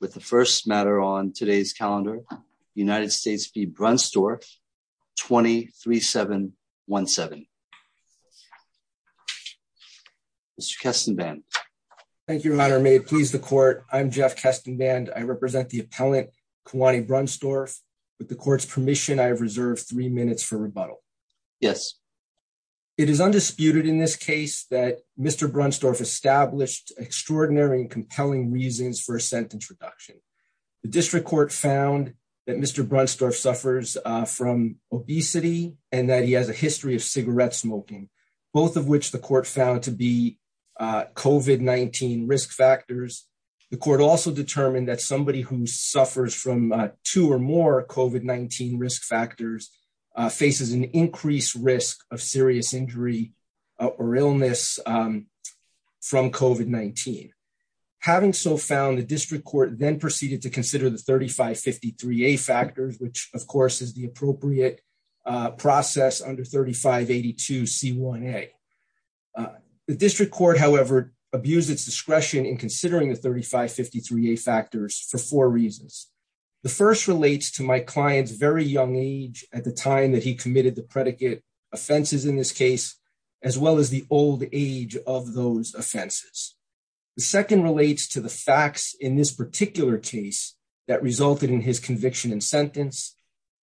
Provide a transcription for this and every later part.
With the first matter on today's calendar, United States v. Brunstorff, 23-7-1-7. Mr. Kestenband. Thank you, Your Honor. May it please the Court, I'm Jeff Kestenband. I represent the appellant, Kawani Brunstorff. With the Court's permission, I have reserved three minutes for rebuttal. Yes. It is undisputed in this case that Mr. Brunstorff established extraordinary and compelling reasons for a sentence reduction. The District Court found that Mr. Brunstorff suffers from obesity and that he has a history of cigarette smoking, both of which the Court found to be COVID-19 risk factors. The Court also determined that somebody who suffers from two or more COVID-19 risk factors faces an increased risk of serious injury or illness from COVID-19. Having so found, the District Court then proceeded to consider the 3553A factors, which, of course, is the appropriate process under 3582C1A. The District Court, however, abused its discretion in considering the 3553A factors for four reasons. The first relates to my client's very young age at the time that he committed the predicate offenses in this case, as well as the old age of those offenses. The second relates to the facts in this particular case that resulted in his conviction and sentence.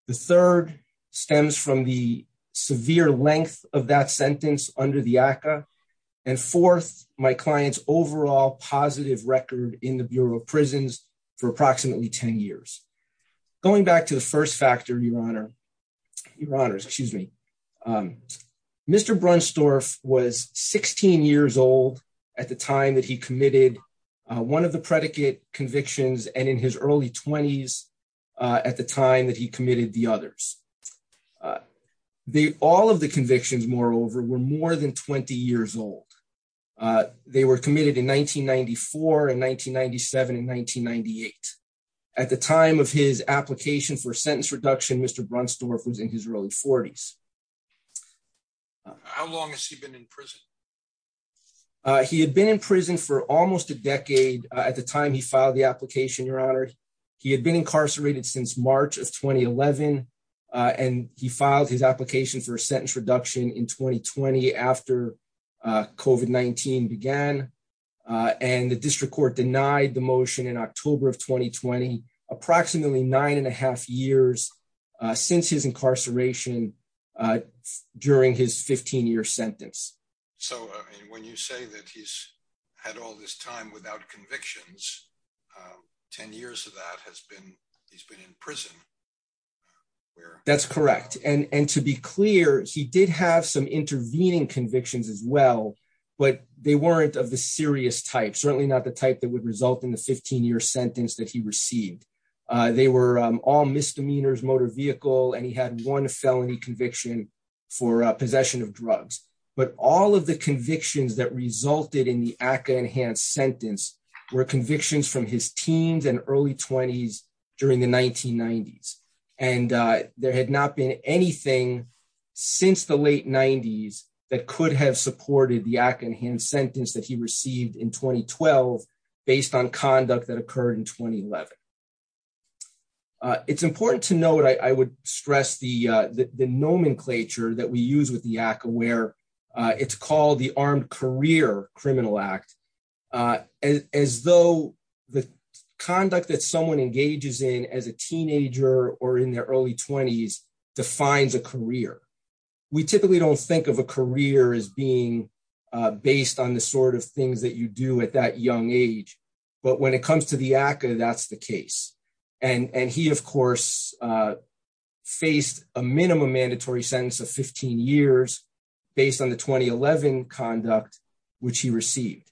The third stems from the severe length of that sentence under the ACCA. And fourth, my client's overall positive record in the Bureau of Prisons for approximately 10 years. Going back to the first factor, Your Honor, Mr. Brunstorff was 16 years old at the time that he committed one of the predicate convictions and in his early 20s at the time that he committed the others. All of the convictions, moreover, were more than 20 years old. They were committed in 1994 and 1997 and 1998. At the time of his application for sentence reduction, Mr. Brunstorff was in his early 40s. How long has he been in prison? He had been in prison for almost a decade at the time he filed the application, Your Honor. He had been incarcerated since March of 2011, and he filed his application for a sentence reduction in 2020 after COVID-19 began. And the district court denied the motion in October of 2020, approximately nine and a half years since his incarceration during his 15-year sentence. So when you say that he's had all this time without convictions, 10 years of that has been he's been in prison. That's correct. And to be clear, he did have some intervening convictions as well, but they weren't of the serious type, certainly not the type that would result in the 15-year sentence that he received. They were all misdemeanors, motor vehicle, and he had one felony conviction for possession of drugs. But all of the convictions that resulted in the ACCA enhanced sentence were convictions from his teens and early 20s during the 1990s. And there had not been anything since the late 90s that could have supported the ACCA enhanced sentence that he received in 2012 based on conduct that occurred in 2011. It's important to note, I would stress the nomenclature that we use with the ACCA, where it's called the Armed Career Criminal Act, as though the conduct that someone engages in as a teenager or in their early 20s defines a career. We typically don't think of a career as being based on the sort of things that you do at that young age. But when it comes to the ACCA, that's the case. And he, of course, faced a minimum mandatory sentence of 15 years based on the 2011 conduct, which he received.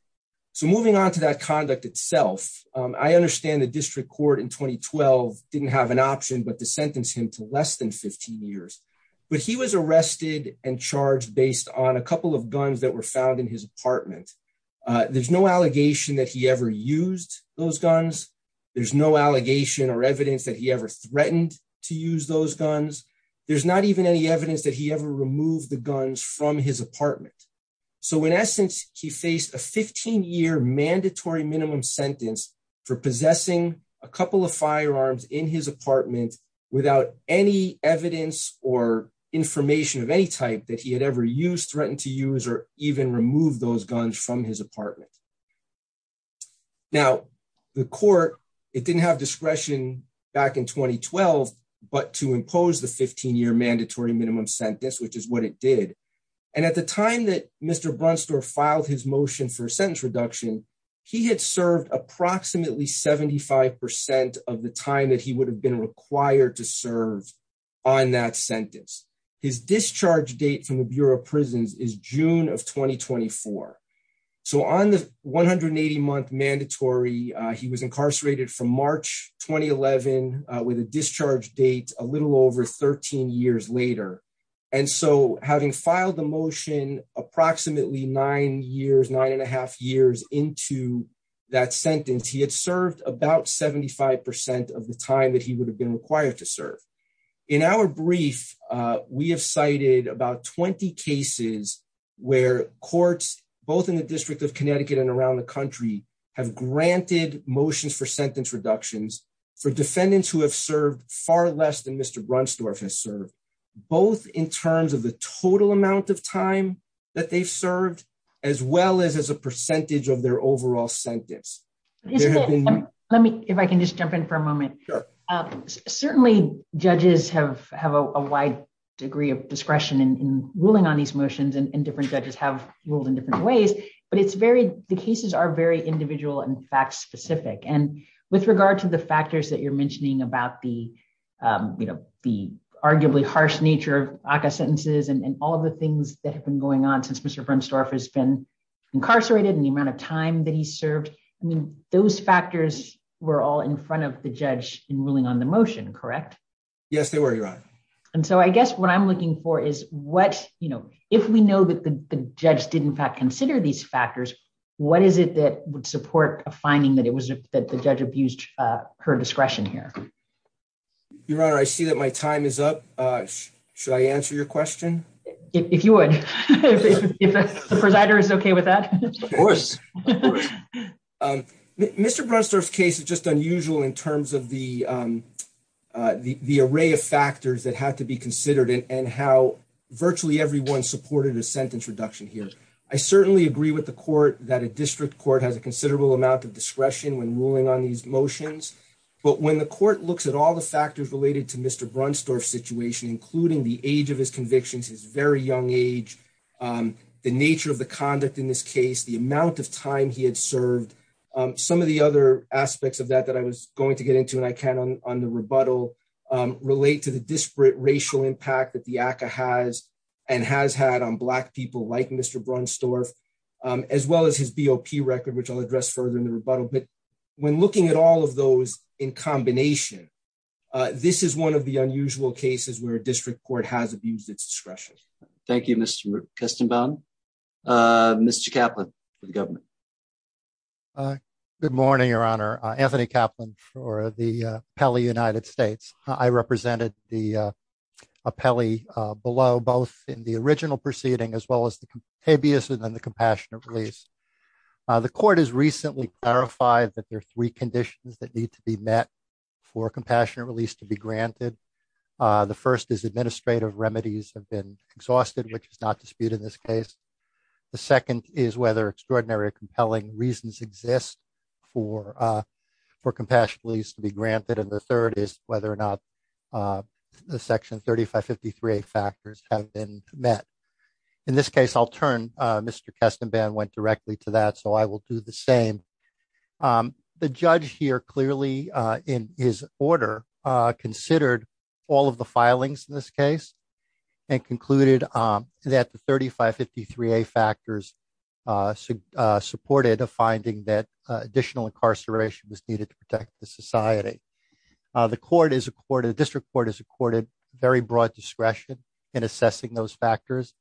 So moving on to that conduct itself, I understand the district court in 2012 didn't have an option but to sentence him to less than 15 years. But he was arrested and charged based on a couple of guns that were found in his apartment. There's no allegation that he ever used those guns. There's no allegation or evidence that he ever threatened to use those guns. There's not even any evidence that he ever removed the guns from his apartment. So in essence, he faced a 15-year mandatory minimum sentence for possessing a couple of firearms in his apartment without any evidence or information of any type that he had ever used, threatened to use, or even remove those guns from his apartment. Now, the court, it didn't have discretion back in 2012 but to impose the 15-year mandatory minimum sentence, which is what it did. And at the time that Mr. Brunstorff filed his motion for a sentence reduction, he had served approximately 75% of the time that he would have been required to serve on that sentence. His discharge date from the Bureau of Prisons is June of 2024. So on the 180-month mandatory, he was incarcerated from March 2011 with a discharge date a little over 13 years later. And so having filed the motion approximately nine years, nine and a half years into that sentence, he had served about 75% of the time that he would have been required to serve. In our brief, we have cited about 20 cases where courts, both in the District of Connecticut and around the country, have granted motions for sentence reductions for defendants who have served far less than Mr. Brunstorff has served, both in terms of the total amount of time that they've served, as well as as a percentage of their overall sentence. Let me, if I can just jump in for a moment. Certainly, judges have a wide degree of discretion in ruling on these motions and different judges have ruled in different ways, but it's very, the cases are very individual and fact-specific. And with regard to the factors that you're mentioning about the arguably harsh nature of ACCA sentences and all of the things that have been going on since Mr. Brunstorff has been incarcerated and the amount of time that he served, I mean, those factors were all in front of the judge in ruling on the motion, correct? Yes, they were, Your Honor. And so I guess what I'm looking for is what, you know, if we know that the judge did in fact consider these factors, what is it that would support a finding that it was that the judge abused her discretion here? Your Honor, I see that my time is up. Should I answer your question? If you would. Of course. Mr. Brunstorff's case is just unusual in terms of the array of factors that have to be considered and how virtually everyone supported a sentence reduction here. I certainly agree with the court that a district court has a considerable amount of discretion when ruling on these motions. But when the court looks at all the factors related to Mr. Brunstorff's situation, including the age of his convictions, his very young age, the nature of the conduct in this case, the amount of time he had served, some of the other aspects of that that I was going to get into, and I can on the rebuttal, relate to the disparate racial impact that the ACCA has and has had on Black people like Mr. Brunstorff, as well as his BOP record, which I'll address further in the rebuttal. But when looking at all of those in combination, this is one of the unusual cases where a district court has abused its discretion. Thank you, Mr. Kestenbaum. Mr. Kaplan, for the government. Good morning, Your Honor. Anthony Kaplan for the Pele United States. I represented the Pele below, both in the original proceeding as well as the habeas and then the compassionate release. The court has recently clarified that there are three conditions that need to be met for compassionate release to be granted. The first is administrative remedies have been exhausted, which is not disputed in this case. The second is whether extraordinary or compelling reasons exist for compassionate release to be granted. And the third is whether or not the Section 3553A factors have been met. In this case, I'll turn Mr. Kestenbaum went directly to that, so I will do the same. The judge here clearly in his order considered all of the filings in this case and concluded that the 3553A factors supported a finding that additional incarceration was needed to protect the society. The district court has accorded very broad discretion in assessing those factors.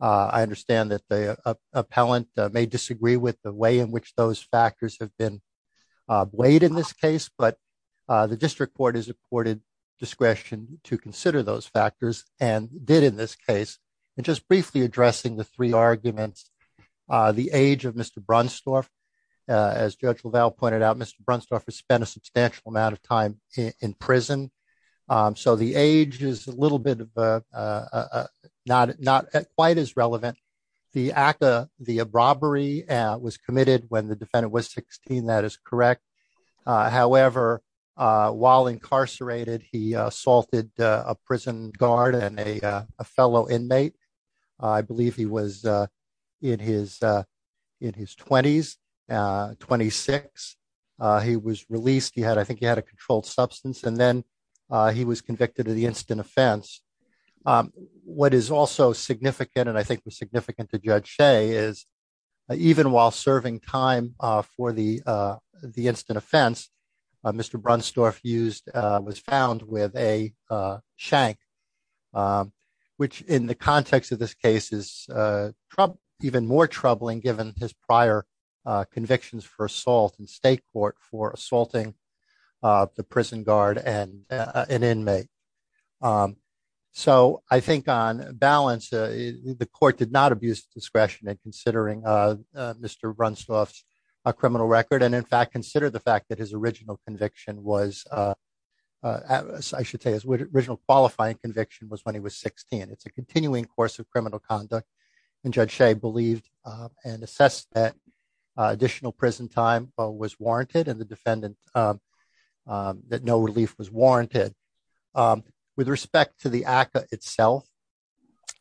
I understand that the appellant may disagree with the way in which those factors have been weighed in this case, but the district court has accorded discretion to consider those factors and did in this case. And just briefly addressing the three arguments, the age of Mr. Brunstorf, as Judge LaValle pointed out, Mr. Brunstorf has spent a substantial amount of time in prison. So the age is a little bit of a not not quite as relevant. The act of the robbery was committed when the defendant was 16. That is correct. However, while incarcerated, he assaulted a prison guard and a fellow inmate. I believe he was in his 20s, 26. He was released. I think he had a controlled substance, and then he was convicted of the instant offense. What is also significant, and I think was significant to Judge Shea, is even while serving time for the instant offense, Mr. Brunstorf was found with a shank, which in the context of this case is even more troubling given his prior convictions for assault in state court for assaulting the prison guard and an inmate. So I think on balance, the court did not abuse discretion in considering Mr. Brunstorf's criminal record. And in fact, consider the fact that his original conviction was, I should say, his original qualifying conviction was when he was 16. It's a continuing course of criminal conduct. And Judge Shea believed and assessed that additional prison time was warranted and the defendant that no relief was warranted. With respect to the ACCA itself,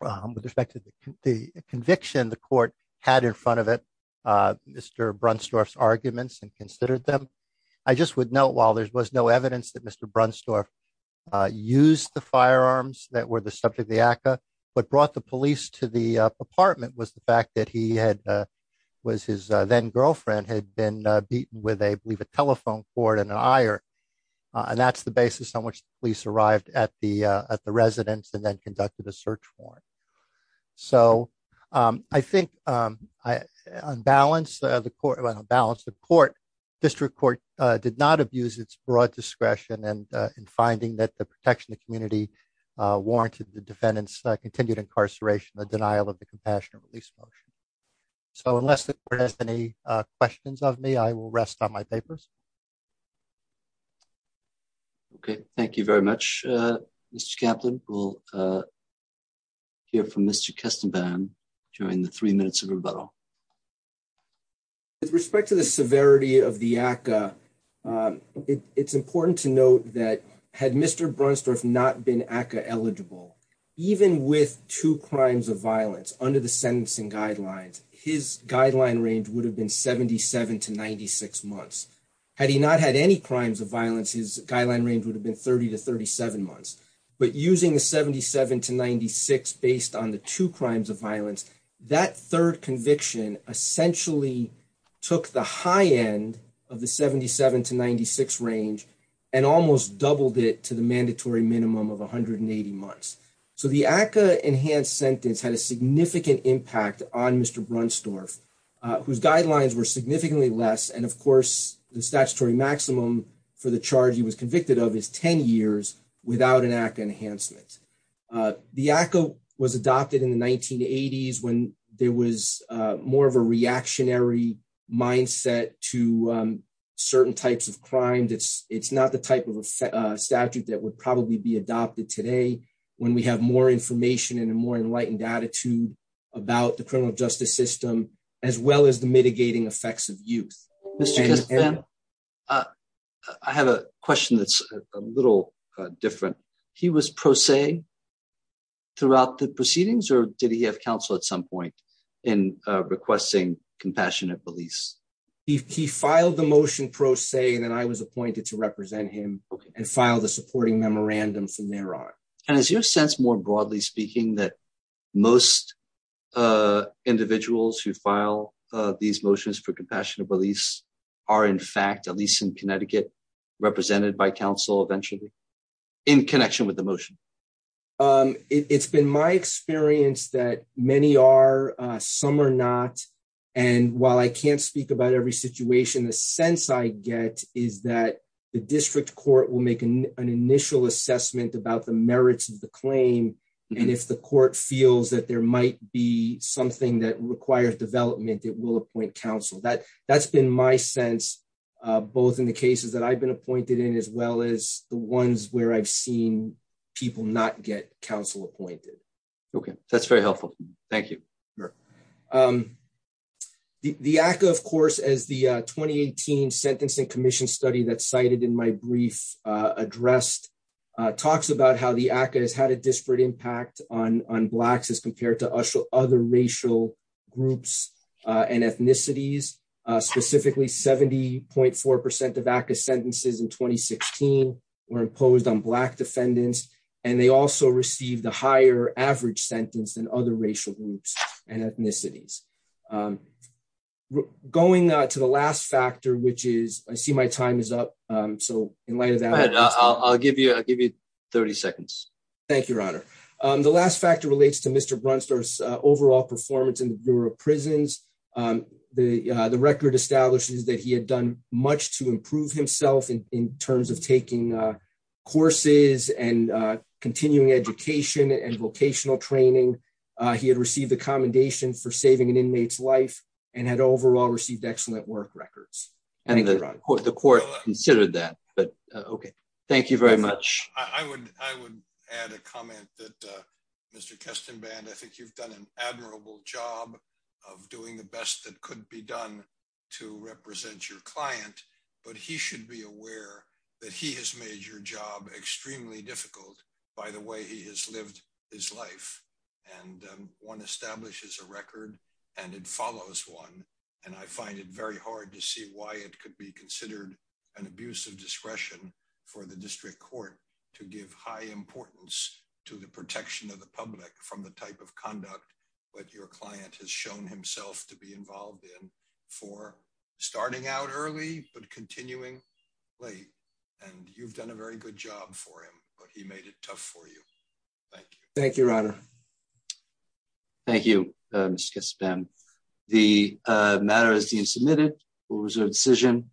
with respect to the conviction the court had in front of it, Mr. Brunstorf's arguments and considered them, I just would note while there was no evidence that Mr. Brunstorf used the firearms that were the subject of the ACCA, what brought the police to the apartment was the fact that he had, was his then girlfriend had been beaten with a, I believe, a telephone cord and an ire. And that's the basis on which the police arrived at the residence and then conducted a search warrant. So, I think, on balance, the court, district court did not abuse its broad discretion and in finding that the protection of the community warranted the defendant's continued incarceration, the denial of the compassionate release motion. So unless the court has any questions of me, I will rest on my papers. Okay, thank you very much, Mr. Kaplan. We'll hear from Mr. Kestenbaum during the three minutes of rebuttal. With respect to the severity of the ACCA, it's important to note that had Mr. Brunstorf not been ACCA eligible, even with two crimes of violence under the sentencing guidelines, his guideline range would have been 77 to 96 months. Had he not had any crimes of violence, his guideline range would have been 30 to 37 months. But using the 77 to 96 based on the two crimes of violence, that third conviction essentially took the high end of the 77 to 96 range and almost doubled it to the mandatory minimum of 180 months. So the ACCA enhanced sentence had a significant impact on Mr. Brunstorf, whose guidelines were significantly less and, of course, the statutory maximum for the charge he was convicted of is 10 years without an ACCA enhancement. The ACCA was adopted in the 1980s when there was more of a reactionary mindset to certain types of crime. It's not the type of statute that would probably be adopted today when we have more information and a more enlightened attitude about the criminal justice system, as well as the mitigating effects of youth. I have a question that's a little different. He was pro se throughout the proceedings, or did he have counsel at some point in requesting compassionate release? He filed the motion pro se, and then I was appointed to represent him and file the supporting memorandum from there on. And is your sense, more broadly speaking, that most individuals who file these motions for compassionate release are in fact, at least in Connecticut, represented by counsel eventually in connection with the motion? It's been my experience that many are, some are not. And while I can't speak about every situation, the sense I get is that the district court will make an initial assessment about the merits of the claim. And if the court feels that there might be something that requires development, it will appoint counsel. That's been my sense, both in the cases that I've been appointed in, as well as the ones where I've seen people not get counsel appointed. Okay, that's very helpful. Thank you. The ACCA, of course, as the 2018 Sentencing Commission study that's cited in my brief addressed, talks about how the ACCA has had a disparate impact on Blacks as compared to other racial groups and ethnicities. Specifically, 70.4% of ACCA sentences in 2016 were imposed on Black defendants, and they also received a higher average sentence than other racial groups and ethnicities. Going to the last factor, which is, I see my time is up. So, in light of that... I'll give you 30 seconds. Thank you, Your Honor. The last factor relates to Mr. Brunster's overall performance in the Bureau of Prisons. The record establishes that he had done much to improve himself in terms of taking courses and continuing education and vocational training. He had received a commendation for saving an inmate's life and had overall received excellent work records. I think the court considered that, but okay. Thank you very much. I would add a comment that, Mr. Kestenband, I think you've done an admirable job of doing the best that could be done to represent your client. But he should be aware that he has made your job extremely difficult by the way he has lived his life. One establishes a record and it follows one, and I find it very hard to see why it could be considered an abuse of discretion for the district court to give high importance to the protection of the public from the type of conduct that your client has shown himself to be involved in for starting out early but continuing late. And you've done a very good job for him, but he made it tough for you. Thank you. Thank you, Robert. Thank you, Mr. Kestenband. The matter is being submitted. We'll reserve decision.